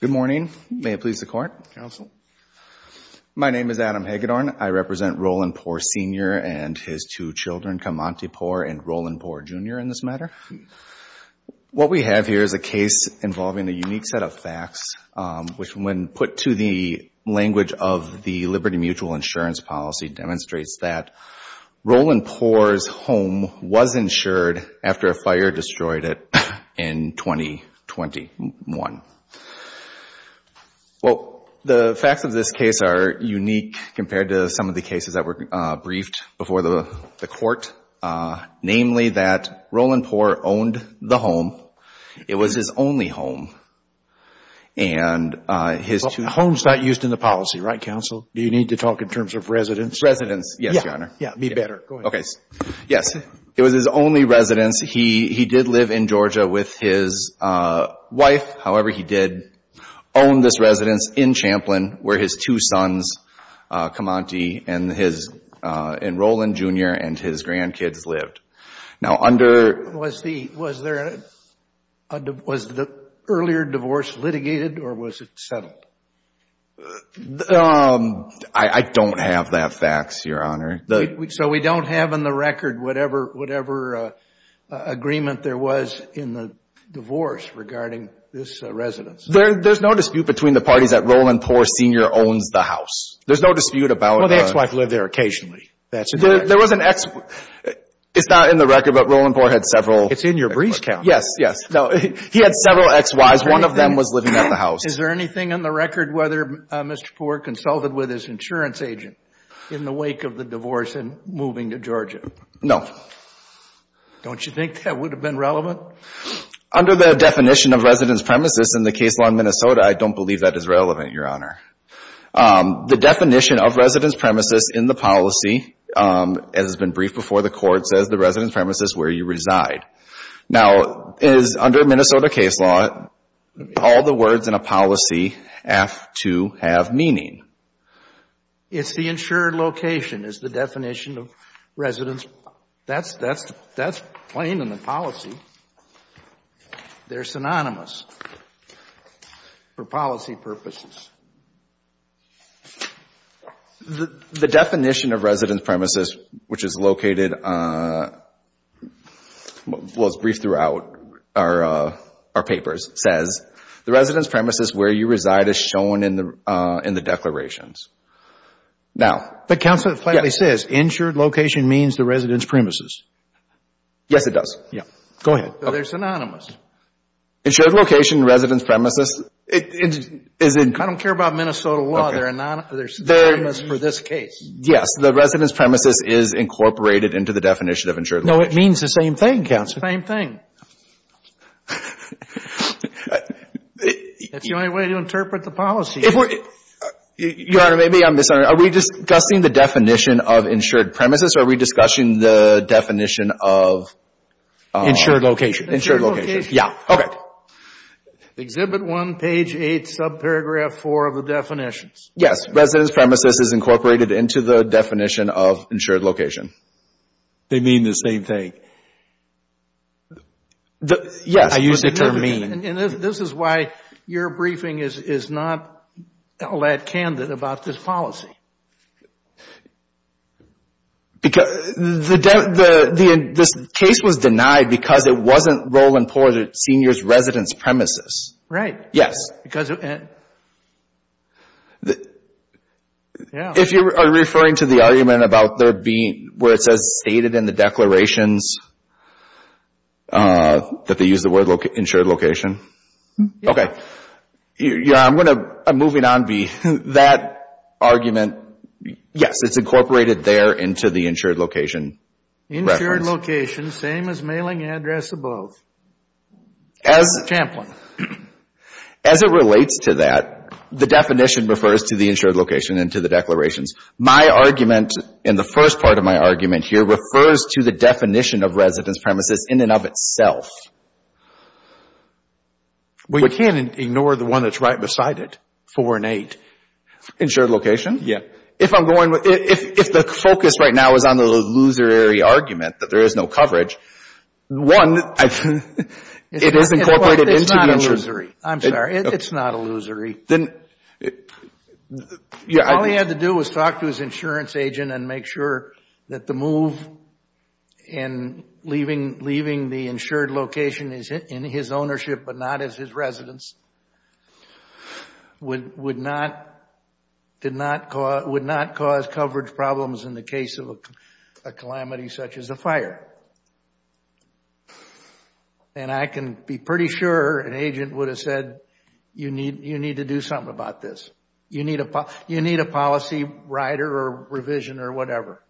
Good morning. May it please the Court. Counsel. My name is Adam Hagedorn. I represent Roland Pour, Sr. and his two children, Kamanti Pour and Roland Pour, Jr. in this matter. What we have here is a case involving a unique set of facts, which when put to the language of the Liberty Mutual Insurance Policy demonstrates that Roland Pour's home was insured after a fire destroyed it in 2021. Well, the facts of this case are unique compared to some of the cases that were briefed before the Court, namely that Roland Pour owned the home. It was his only home, and his two — Well, home's not used in the policy, right, Counsel? Do you need to talk in terms of Residence. Yes, Your Honor. Yeah. Yeah. Me better. Go ahead. Okay. Yes. It was his only residence. He did live in Georgia with his wife. However, he did own this residence in Champlin where his two sons, Kamanti and Roland, Jr., and his grandkids lived. Now, under — Was the — was there a — was the earlier divorce litigated, or was it settled? I don't have that fax, Your Honor. So we don't have in the record whatever agreement there was in the divorce regarding this residence? There's no dispute between the parties that Roland Pour, Sr. owns the house. There's no dispute about — Well, the ex-wife lived there occasionally. That's — There was an ex — it's not in the record, but Roland Pour had several — It's in your briefs, Counsel. Yes. Yes. No, he had several ex-wives. One of them was living at the house. Is there anything in the record whether Mr. Pour consulted with his insurance agent in the wake of the divorce and moving to Georgia? No. Don't you think that would have been relevant? Under the definition of residence premises in the case law in Minnesota, I don't believe that is relevant, Your Honor. The definition of residence premises in the policy, as has been briefed before the Court, says the residence premises where you reside. Now, is — under Minnesota case law, all the words in a policy have to have meaning? It's the insured location is the definition of residence. That's — that's — that's purposes. The definition of residence premises, which is located — well, it's briefed throughout our papers, says the residence premises where you reside is shown in the declarations. Now — But Counsel, it plainly says, insured location means the residence premises. Yes, it does. Yes. Go ahead. They're synonymous. Insured location, residence premises, is — I don't care about Minnesota law. They're synonymous for this case. Yes. The residence premises is incorporated into the definition of insured location. No, it means the same thing, Counsel. It's the same thing. That's the only way to interpret the policy. If we're — Your Honor, maybe I'm misunderstanding. Are we discussing the definition of insured premises, or are we discussing the definition of — Insured location. Insured location. Yeah. Okay. Exhibit 1, page 8, subparagraph 4 of the definitions. Yes. Residence premises is incorporated into the definition of insured location. They mean the same thing. Yes. I use the term mean. And this is why your briefing is not all that candid about this policy. Because the — this case was denied because it wasn't role important at seniors' residence premises. Right. Yes. Because — Yeah. If you are referring to the argument about there being — where it says stated in the declarations that they use the word insured location. Yeah. Okay. Your Honor, I'm going to — I'm moving on, B. That argument, yes, it's incorporated there into the insured location reference. Insured location, same as mailing address above. As — Champlin. As it relates to that, the definition refers to the insured location and to the declarations. My argument in the first part of my argument here refers to the definition of residence premises in and of itself. Well, you can't ignore the one that's right beside it, four and eight. Insured location? Yeah. If I'm going — if the focus right now is on the illusory argument that there is no coverage, one, it is incorporated into the — It's not illusory. I'm sorry. It's not illusory. Then — All he had to do was talk to his insurance agent and make sure that the move in leaving the insured location in his ownership but not as his residence would not cause coverage problems in the case of a calamity such as a fire. And I can be pretty sure an agent would have said, you need to do something about this. You need a policy writer or revision or whatever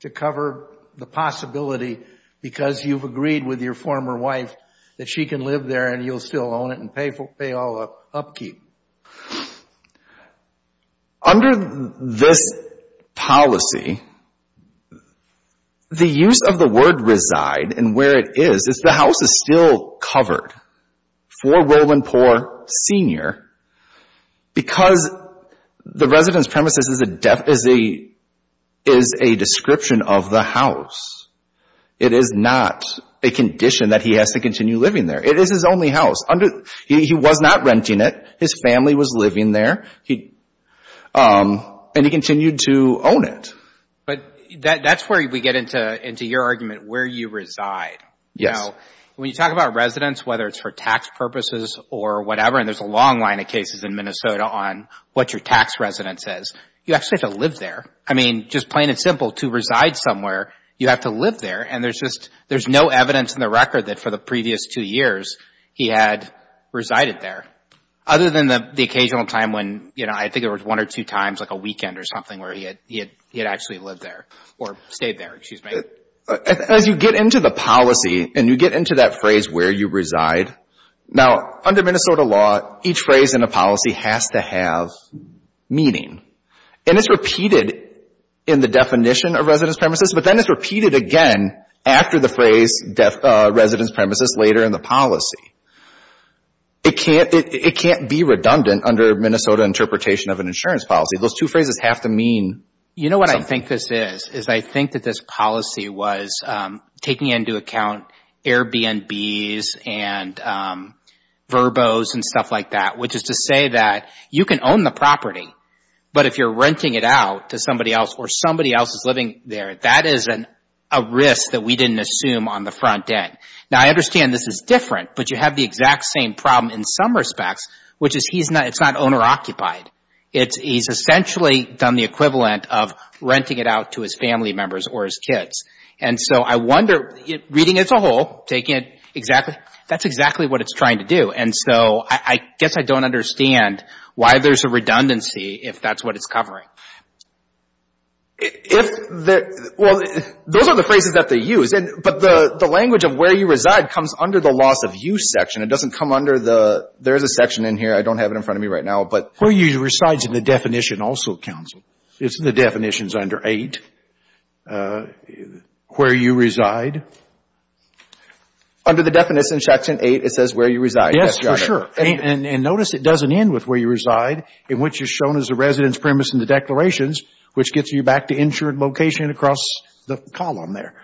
to cover the possibility because you've agreed with your former wife that she can live there and you'll still own it and pay all the upkeep. Under this policy, the use of the word reside and where it is, is the house is still covered for will and poor senior because the residence premises is a description of the house. It is not a condition that he has to continue living there. It is his only house. He was not renting it. His family was living there and he continued to own it. But that's where we get into your argument, where you reside. Yes. So when you talk about residence, whether it's for tax purposes or whatever, and there's a long line of cases in Minnesota on what your tax residence is, you actually have to live there. I mean, just plain and simple, to reside somewhere, you have to live there. And there's no evidence in the record that for the previous two years, he had resided there, other than the occasional time when I think it was one or two times like a weekend or something where he had actually lived there or stayed there. As you get into the policy and you get into that phrase where you reside, now under Minnesota law, each phrase in a policy has to have meaning. And it's repeated in the definition of residence premises, but then it's repeated again after the phrase residence premises later in the policy. It can't be redundant under Minnesota interpretation of an insurance policy. Those two phrases have to mean something. I think that this policy was taking into account Airbnbs and verbos and stuff like that, which is to say that you can own the property, but if you're renting it out to somebody else or somebody else is living there, that is a risk that we didn't assume on the front end. Now, I understand this is different, but you have the exact same problem in some respects, which is it's not owner-occupied. He's essentially done the equivalent of renting it out to his family members or his kids. And so I wonder, reading it as a whole, that's exactly what it's trying to do. And so I guess I don't understand why there's a redundancy if that's what it's covering. Well, those are the phrases that they use. But the language of where you reside comes under the loss of use section. It doesn't come under the — there is a section in here. I don't have it in front of me right now. But where you reside is in the definition also, counsel. It's in the definitions under 8, where you reside. Under the definition, section 8, it says where you reside. Yes, Your Honor. Yes, for sure. And notice it doesn't end with where you reside, in which is shown as the residence premise in the declarations, which gets you back to insured location across the column there.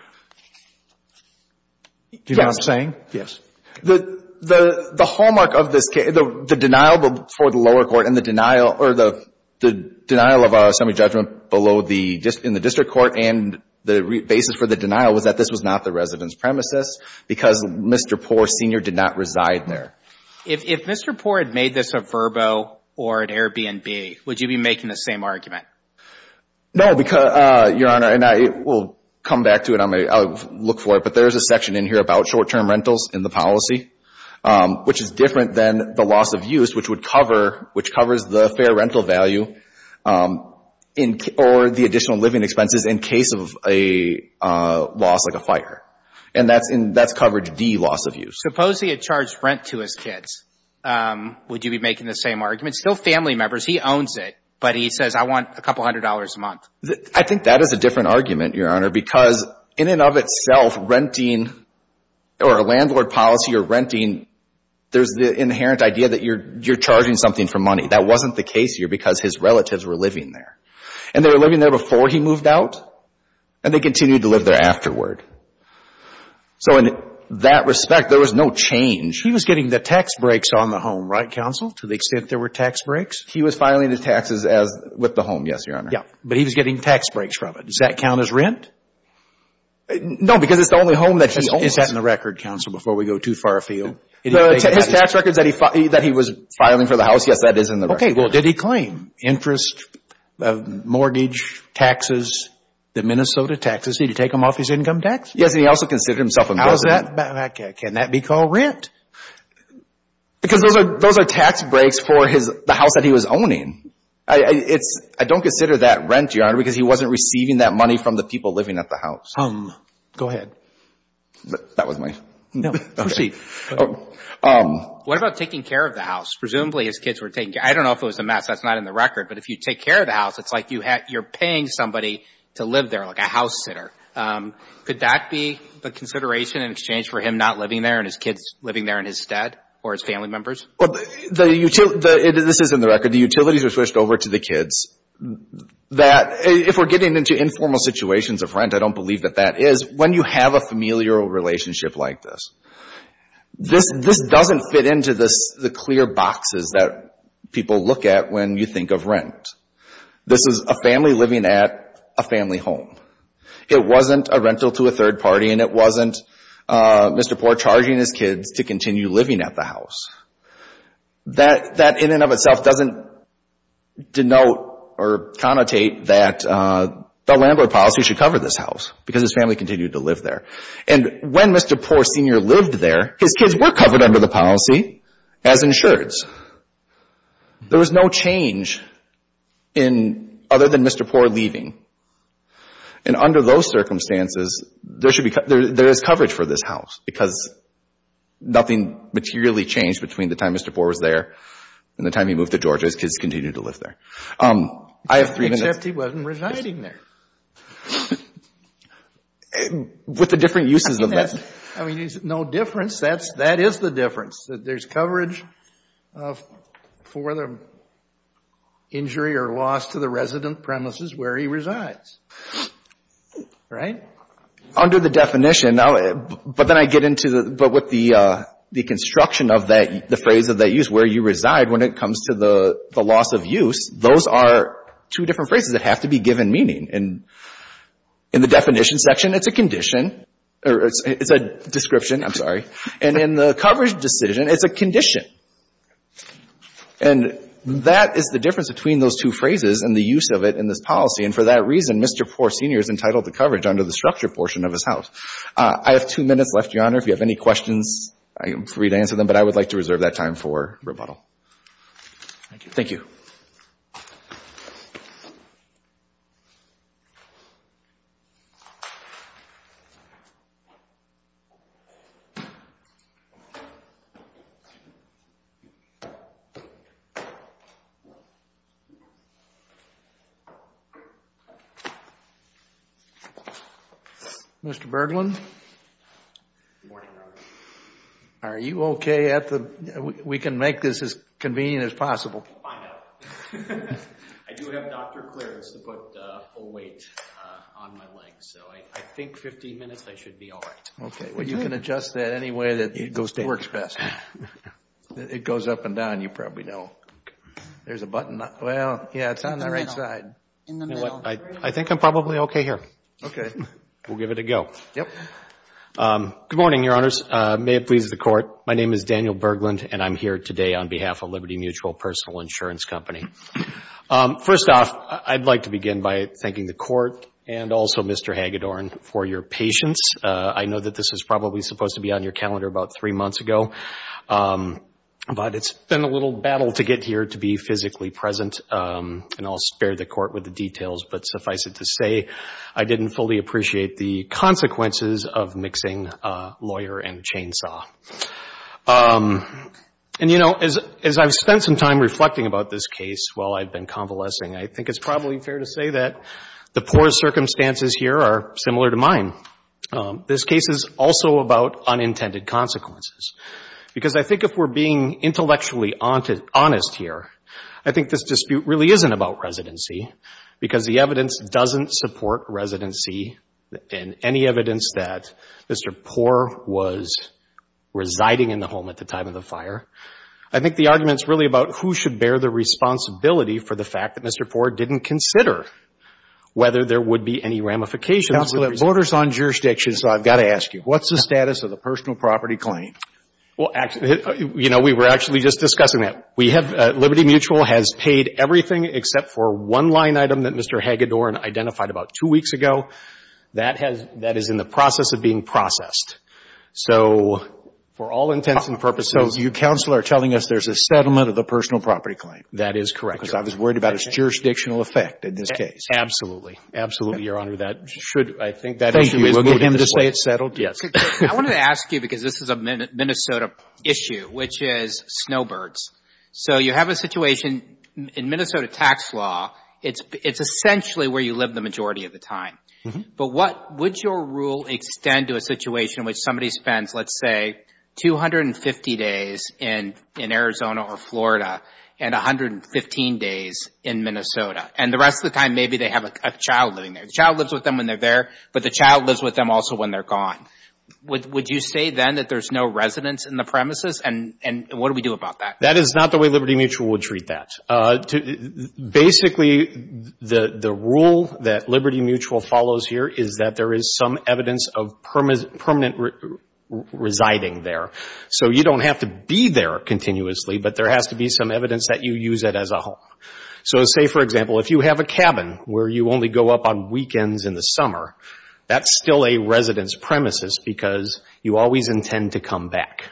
Yes. Do you know what I'm saying? Yes. The hallmark of this case — the denial for the lower court and the denial — or the denial of a semi-judgment below the — in the district court and the basis for the denial was that this was not the residence premises because Mr. Poore Sr. did not reside there. If Mr. Poore had made this a Vrbo or an Airbnb, would you be making the same argument? No, because — Your Honor, and I will come back to it. I'll look for it. But there is a section in here about short-term rentals in the policy, which is different than the loss of use, which would cover — which covers the fair rental value or the additional living expenses in case of a loss like a fire. And that's coverage D, loss of use. Suppose he had charged rent to his kids. Would you be making the same argument? Still family members. He owns it. But he says, I want a couple hundred dollars a month. I think that is a different argument, Your Honor, because in and of itself, renting or a landlord policy or renting, there's the inherent idea that you're charging something for money. That wasn't the case here because his relatives were living there. And they were living there before he moved out, and they continued to live there afterward. So in that respect, there was no change. He was getting the tax breaks on the home, right, counsel, to the extent there were tax breaks? He was filing his taxes as — with the home, yes, Your Honor. Yeah. But he was getting tax breaks from it. Does that count as rent? No, because it's the only home that he owns. Is that in the record, counsel, before we go too far afield? His tax records that he was filing for the house, yes, that is in the record. Okay. Well, did he claim interest, mortgage, taxes, the Minnesota taxes? Did he take them off his income tax? Yes, and he also considered himself embezzling. How is that — can that be called rent? Because those are tax breaks for the house that he was owning. It's — I don't consider that rent, Your Honor, because he wasn't receiving that money from the people living at the house. Go ahead. That was my — No, proceed. What about taking care of the house? Presumably his kids were taking care — I don't know if it was a mess. That's not in the record. But if you take care of the house, it's like you're paying somebody to live there, like a house sitter. Could that be the consideration in exchange for him not living there and his kids living there in his stead or his family members? Well, the — this is in the record. The utilities are switched over to the kids. That — if we're getting into informal situations of rent, I don't believe that that is. When you have a familial relationship like this, this doesn't fit into the clear boxes that people look at when you think of rent. This is a family living at a family home. It wasn't a rental to a third party, and it wasn't Mr. Poore charging his kids to continue living at the house. That in and of itself doesn't denote or connotate that the landlord policy should cover this house because his family continued to live there. And when Mr. Poore Sr. lived there, his kids were covered under the policy as insureds. There was no change in — other than Mr. Poore leaving. And under those circumstances, there should be — there is coverage for this house because nothing materially changed between the time Mr. Poore was there and the time he moved to Georgia. His kids continued to live there. I have three minutes. Except he wasn't residing there. With the different uses of that. I mean, there's no difference. That's — that is the difference, that there's coverage for the injury or loss to the resident premises where he resides. Right? Under the definition, now — but then I get into the — but with the construction of that — the phrase of that use, where you reside, when it comes to the loss of use, those are two different phrases that have to be given meaning. And in the definition section, it's a condition. It's a description. I'm sorry. And in the coverage decision, it's a condition. And that is the difference between those two phrases and the use of it in this policy. And for that reason, Mr. Poore Sr. is entitled to coverage under the structure portion of his house. I have two minutes left, Your Honor. If you have any questions, I am free to answer them. But I would like to reserve that time for rebuttal. Thank you. Thank you. Mr. Berglund? Good morning, Your Honor. Are you okay at the — we can make this as convenient as possible. I know. I do have doctor clearance to put a weight on my legs. So I think 15 minutes, I should be all right. Okay. Well, you can adjust that any way that works best. It goes up and down. You probably know. There's a button. Well, yeah, it's on the right side. In the middle. You know what? I think I'm probably okay here. Okay. We'll give it a go. Yep. Good morning, Your Honors. May it please the Court. My name is Daniel Berglund, and I'm here today on behalf of Liberty Mutual Personal Insurance Company. First off, I'd like to begin by thanking the Court and also Mr. Hagedorn for your patience. I know that this was probably supposed to be on your calendar about three months ago. But it's been a little battle to get here to be physically present, and I'll spare the Court with the details. But suffice it to say, I didn't fully appreciate the consequences of mixing lawyer and chainsaw. And, you know, as I've spent some time reflecting about this case while I've been convalescing, I think it's probably fair to say that the poor circumstances here are similar to mine. This case is also about unintended consequences. Because I think if we're being intellectually honest here, I think this dispute really isn't about residency because the evidence doesn't support residency in any evidence that Mr. Poore was residing in the home at the time of the fire. I think the argument's really about who should bear the responsibility for the fact that Mr. Poore didn't consider whether there would be any ramifications. Counsel, it borders on jurisdiction, so I've got to ask you. What's the status of the personal property claim? Well, actually, you know, we were actually just discussing that. We have Liberty Mutual has paid everything except for one line item that Mr. Hagedorn identified about two weeks ago. That is in the process of being processed. So for all intents and purposes. So you, Counsel, are telling us there's a settlement of the personal property claim. That is correct. Because I was worried about its jurisdictional effect in this case. Absolutely. Absolutely, Your Honor. That should, I think, that issue is moving. We'll get him to say it's settled. Yes. I wanted to ask you because this is a Minnesota issue, which is snowbirds. So you have a situation in Minnesota tax law. It's essentially where you live the majority of the time. But what, would your rule extend to a situation in which somebody spends, let's say, 250 days in Arizona or Florida and 115 days in Minnesota? And the rest of the time, maybe they have a child living there. The child lives with them when they're there. But the child lives with them also when they're gone. Would you say then that there's no residence in the premises? And what do we do about that? That is not the way Liberty Mutual would treat that. Basically, the rule that Liberty Mutual follows here is that there is some evidence of permanent residing there. So you don't have to be there continuously, but there has to be some evidence that you use it as a home. So say, for example, if you have a cabin where you only go up on weekends in the summer, that's still a residence premises because you always intend to come back.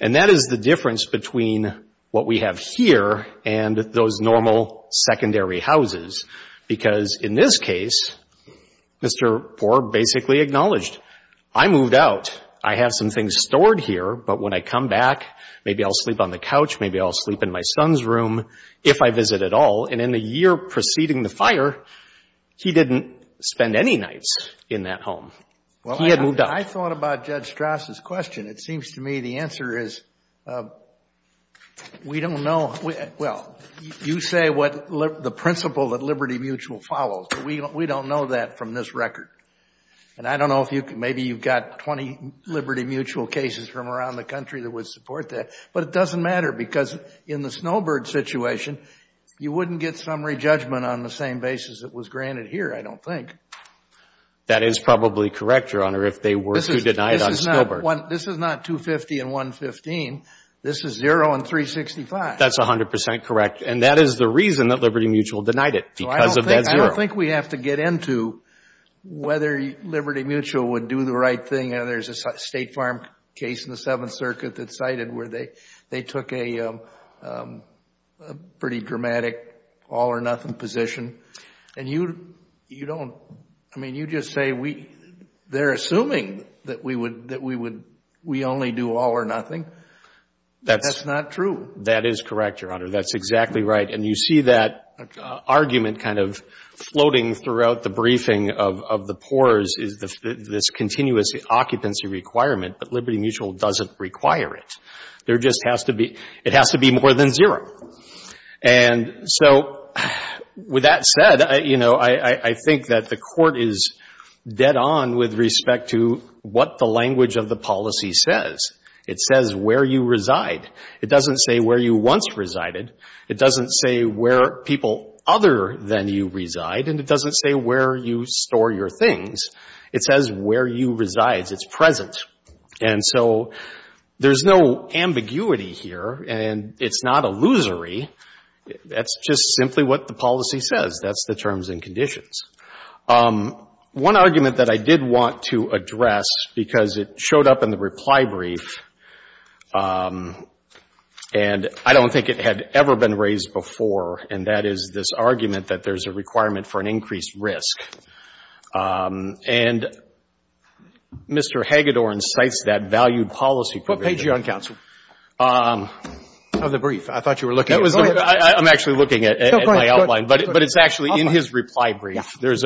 And that is the difference between what we have here and those normal secondary houses because in this case, Mr. Forb basically acknowledged, I moved out. I have some things stored here, but when I come back, maybe I'll sleep on the couch, maybe I'll sleep in my son's room, if I visit at all. And in the year preceding the fire, he didn't spend any nights in that home. He had moved out. Well, I thought about Judge Strass' question. It seems to me the answer is we don't know. Well, you say what the principle that Liberty Mutual follows, but we don't know that from this record. And I don't know if you can – maybe you've got 20 Liberty Mutual cases from around the country that would support that, but it doesn't matter because in the Snowbird situation, you wouldn't get summary judgment on the same basis it was granted here, I don't think. That is probably correct, Your Honor, if they were to deny it on Snowbird. This is not 250 and 115. This is zero and 365. That's 100% correct, and that is the reason that Liberty Mutual denied it, because of that zero. I don't think we have to get into whether Liberty Mutual would do the right thing. You know, there's a State Farm case in the Seventh Circuit that cited where they took a pretty dramatic all-or-nothing position. And you don't – I mean, you just say they're assuming that we only do all-or-nothing. That's not true. That is correct, Your Honor. That's exactly right. And you see that argument kind of floating throughout the briefing of the poor is this continuous occupancy requirement, but Liberty Mutual doesn't require it. There just has to be – it has to be more than zero. And so with that said, you know, I think that the Court is dead on with respect to what the language of the policy says. It says where you reside. It doesn't say where you once resided. It doesn't say where people other than you reside. And it doesn't say where you store your things. It says where you reside. It's present. And so there's no ambiguity here, and it's not illusory. That's just simply what the policy says. That's the terms and conditions. One argument that I did want to address, because it showed up in the reply brief, and I don't think it had ever been raised before, and that is this argument that there's a requirement for an increased risk. And Mr. Hagedorn cites that valued policy provision. What page are you on, counsel? Oh, the brief. I thought you were looking at it. I'm actually looking at my outline, but it's actually in his reply brief. There's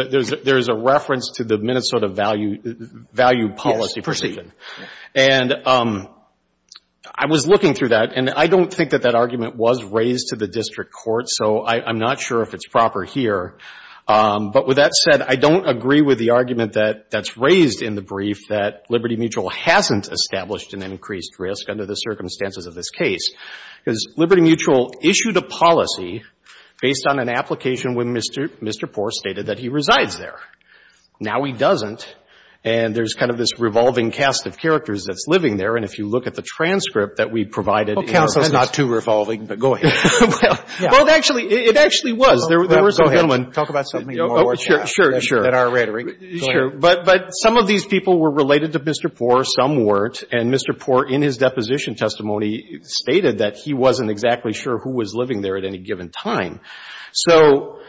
a reference to the Minnesota valued policy provision. Yes, proceed. And I was looking through that, and I don't think that that argument was raised to the district court, so I'm not sure if it's proper here. But with that said, I don't agree with the argument that's raised in the brief that Liberty Mutual hasn't established an increased risk under the circumstances of this case, because Liberty Mutual issued a policy based on an application when Mr. Poore stated that he resides there. Now he doesn't, and there's kind of this revolving cast of characters that's living there, and if you look at the transcript that we provided. Well, counsel, it's not too revolving, but go ahead. Well, it actually was. Go ahead. Talk about something more. Sure, sure. In our rhetoric. Sure. But some of these people were related to Mr. Poore. Some weren't. And Mr. Poore, in his deposition testimony, stated that he wasn't exactly sure who was living there at any given time. So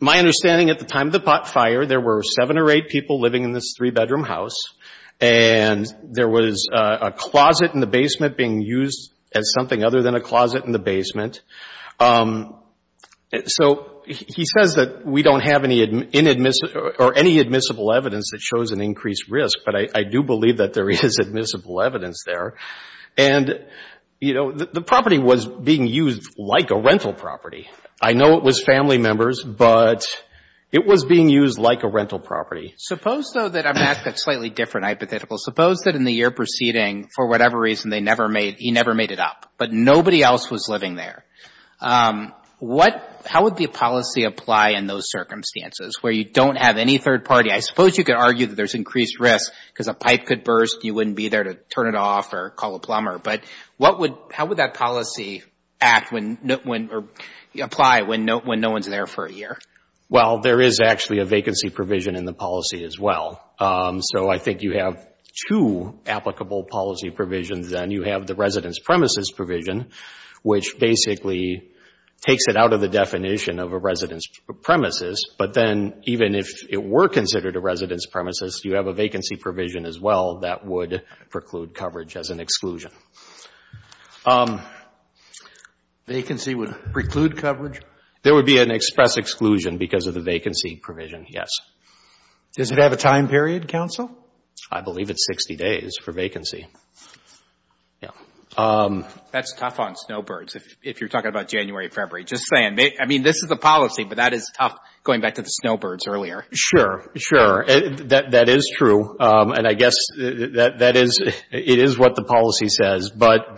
my understanding at the time of the pot fire, there were seven or eight people living in this three-bedroom house, and there was a closet in the basement being used as something other than a closet in the basement. So he says that we don't have any admissible evidence that shows an increased risk, but I do believe that there is admissible evidence there. And, you know, the property was being used like a rental property. I know it was family members, but it was being used like a rental property. Suppose, though, that I'm asking a slightly different hypothetical. Suppose that in the year preceding, for whatever reason, he never made it up, but nobody else was living there. How would the policy apply in those circumstances, where you don't have any third party? I suppose you could argue that there's increased risk because a pipe could burst and you wouldn't be there to turn it off or call a plumber, but how would that policy act or apply when no one's there for a year? Well, there is actually a vacancy provision in the policy as well. So I think you have two applicable policy provisions, and you have the residence premises provision, which basically takes it out of the definition of a residence premises, but then even if it were considered a residence premises, you have a vacancy provision as well that would preclude coverage as an exclusion. Vacancy would preclude coverage? There would be an express exclusion because of the vacancy provision, yes. Does it have a time period, counsel? I believe it's 60 days for vacancy. That's tough on snowbirds, if you're talking about January, February. Just saying, I mean, this is the policy, but that is tough going back to the snowbirds earlier. Sure, sure. That is true, and I guess it is what the policy says, but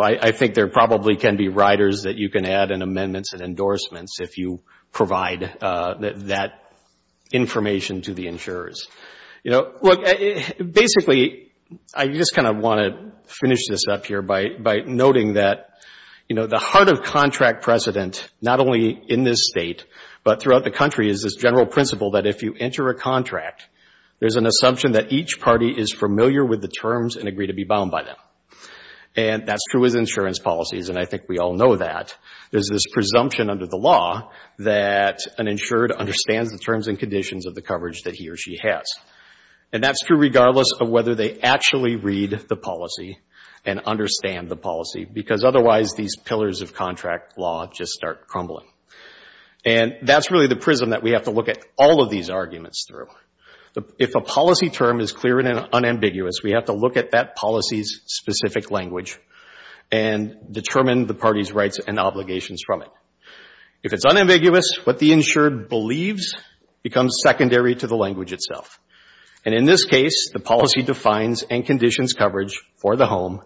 I think there probably can be riders that you can add in amendments and endorsements if you provide that information to the insurers. Basically, I just kind of want to finish this up here by noting that the heart of contract precedent, not only in this state, but throughout the country, is this general principle that if you enter a contract, there's an assumption that each party is familiar with the terms and agree to be bound by them. And that's true with insurance policies, and I think we all know that. There's this presumption under the law that an insured understands the terms and conditions of the coverage that he or she has. And that's true regardless of whether they actually read the policy and understand the policy, because otherwise these pillars of contract law just start crumbling. And that's really the prism that we have to look at all of these arguments through. If a policy term is clear and unambiguous, we have to look at that policy's specific language and determine the party's rights and obligations from it. If it's unambiguous, what the insured believes becomes secondary to the language itself. And in this case, the policy defines and conditions coverage for the home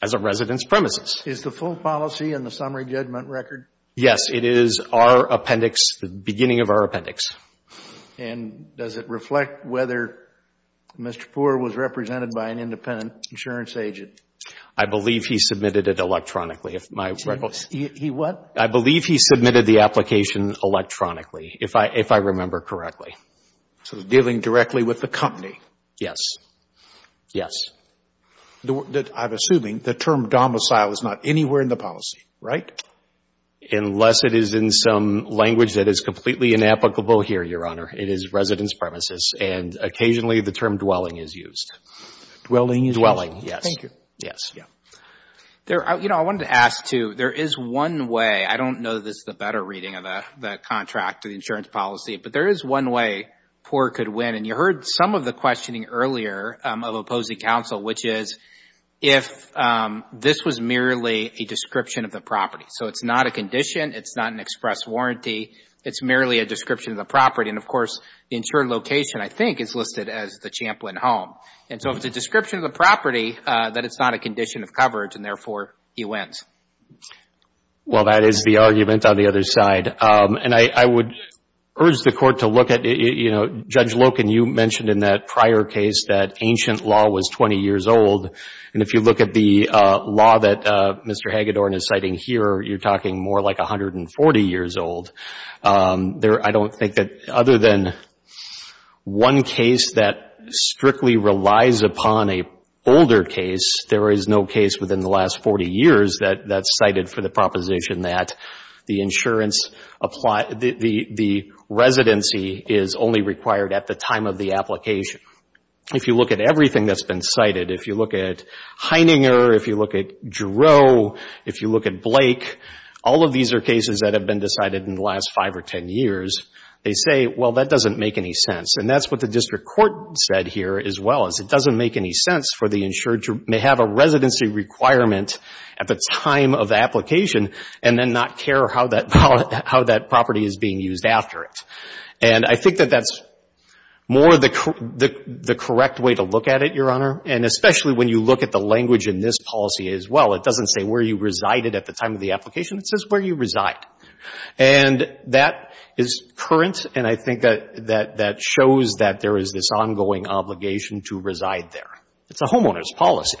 as a resident's premises. Is the full policy in the summary judgment record? Yes. It is our appendix, the beginning of our appendix. And does it reflect whether Mr. Poore was represented by an independent insurance agent? I believe he submitted it electronically. He what? I believe he submitted the application electronically, if I remember correctly. So dealing directly with the company? Yes. Yes. I'm assuming the term domicile is not anywhere in the policy, right? Unless it is in some language that is completely inapplicable here, Your Honor. It is resident's premises. And occasionally the term dwelling is used. Dwelling is used. Dwelling, yes. Thank you. Yes. You know, I wanted to ask, too, there is one way. I don't know that this is a better reading of the contract to the insurance policy, but there is one way Poore could win. And you heard some of the questioning earlier of opposing counsel, which is if this was merely a description of the property. So it's not a condition. It's not an express warranty. It's merely a description of the property. And, of course, the insured location, I think, is listed as the Champlin home. And so if it's a description of the property, then it's not a condition of coverage, and therefore he wins. Well, that is the argument on the other side. And I would urge the Court to look at, you know, Judge Loken, you mentioned in that prior case that ancient law was 20 years old. And if you look at the law that Mr. Hagedorn is citing here, you're talking more like 140 years old. I don't think that other than one case that strictly relies upon a older case, there is no case within the last 40 years that's cited for the proposition that the insurance apply the residency is only required at the time of the application. If you look at everything that's been cited, if you look at Heininger, if you look at Giroux, if you look at Blake, all of these are cases that have been decided in the last 5 or 10 years, they say, well, that doesn't make any sense. And that's what the district court said here as well, is it doesn't make any sense for the insured to have a residency requirement at the time of the application and then not care how that property is being used after it. And I think that that's more the correct way to look at it, Your Honor, and especially when you look at the language in this policy as well. It doesn't say where you resided at the time of the application. It says where you reside. And that is current, and I think that shows that there is this ongoing obligation to reside there. It's a homeowner's policy.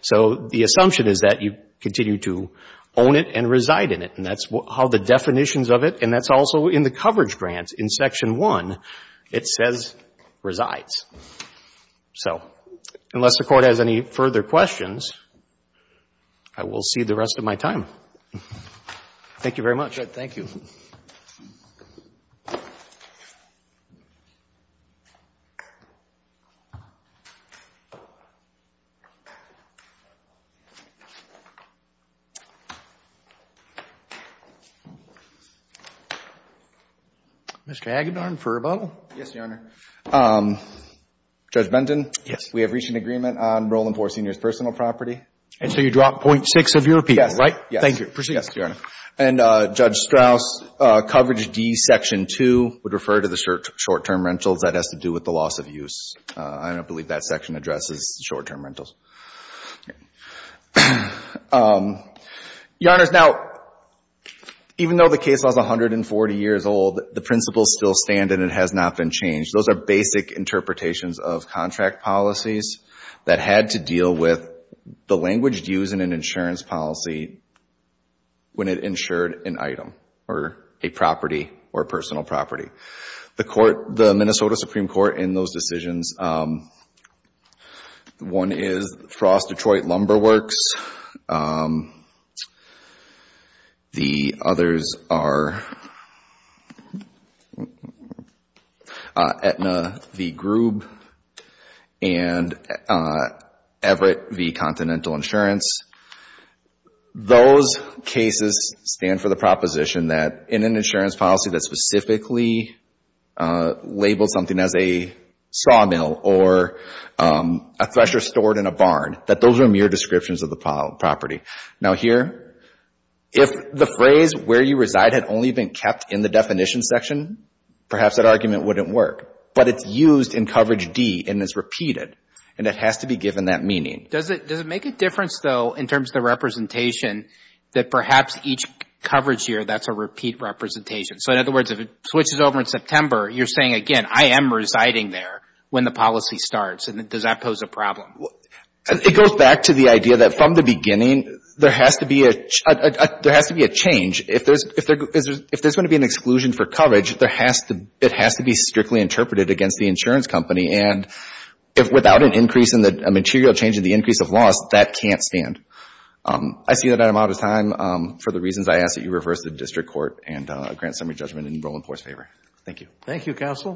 So the assumption is that you continue to own it and reside in it, and that's how the definitions of it, and that's also in the coverage grant in Section 1, it says resides. So unless the Court has any further questions, I will cede the rest of my time. Thank you very much. Thank you. Mr. Hagedorn for rebuttal. Yes, Your Honor. Judge Benton? Yes. We have reached an agreement on Burlingpore Senior's personal property. And so you drop 0.6 of your appeal, right? Yes. Thank you. Proceed. Yes, Your Honor. And Judge Strauss, coverage D, Section 2 would refer to the short-term rentals. That has to do with the loss of use. I don't believe that section addresses short-term rentals. Your Honors, now, even though the case was 140 years old, the principles still stand and it has not been changed. Those are basic interpretations of contract policies that had to deal with the language used in an insurance policy when it insured an item or a property or a personal property. The court, the Minnesota Supreme Court, in those decisions, one is Strauss Detroit Lumber Works. The others are Aetna v. Groob and Everett v. Continental Insurance. Those cases stand for the proposition that in an insurance policy that specifically labels something as a sawmill or a thresher stored in a barn, that those are mere descriptions of the property. Now here, if the phrase where you reside had only been kept in the definition section, perhaps that argument wouldn't work. But it's used in coverage D and it's repeated, and it has to be given that meaning. Does it make a difference, though, in terms of the representation, that perhaps each coverage year that's a repeat representation? So in other words, if it switches over in September, you're saying, again, I am residing there when the policy starts, and does that pose a problem? It goes back to the idea that from the beginning, there has to be a change. If there's going to be an exclusion for coverage, it has to be strictly interpreted against the insurance company. And without a material change in the increase of loss, that can't stand. I see that I'm out of time. For the reasons I asked, I ask that you reverse the district court and grant summary judgment in Roland Pour's favor. Thank you. Thank you, Counsel.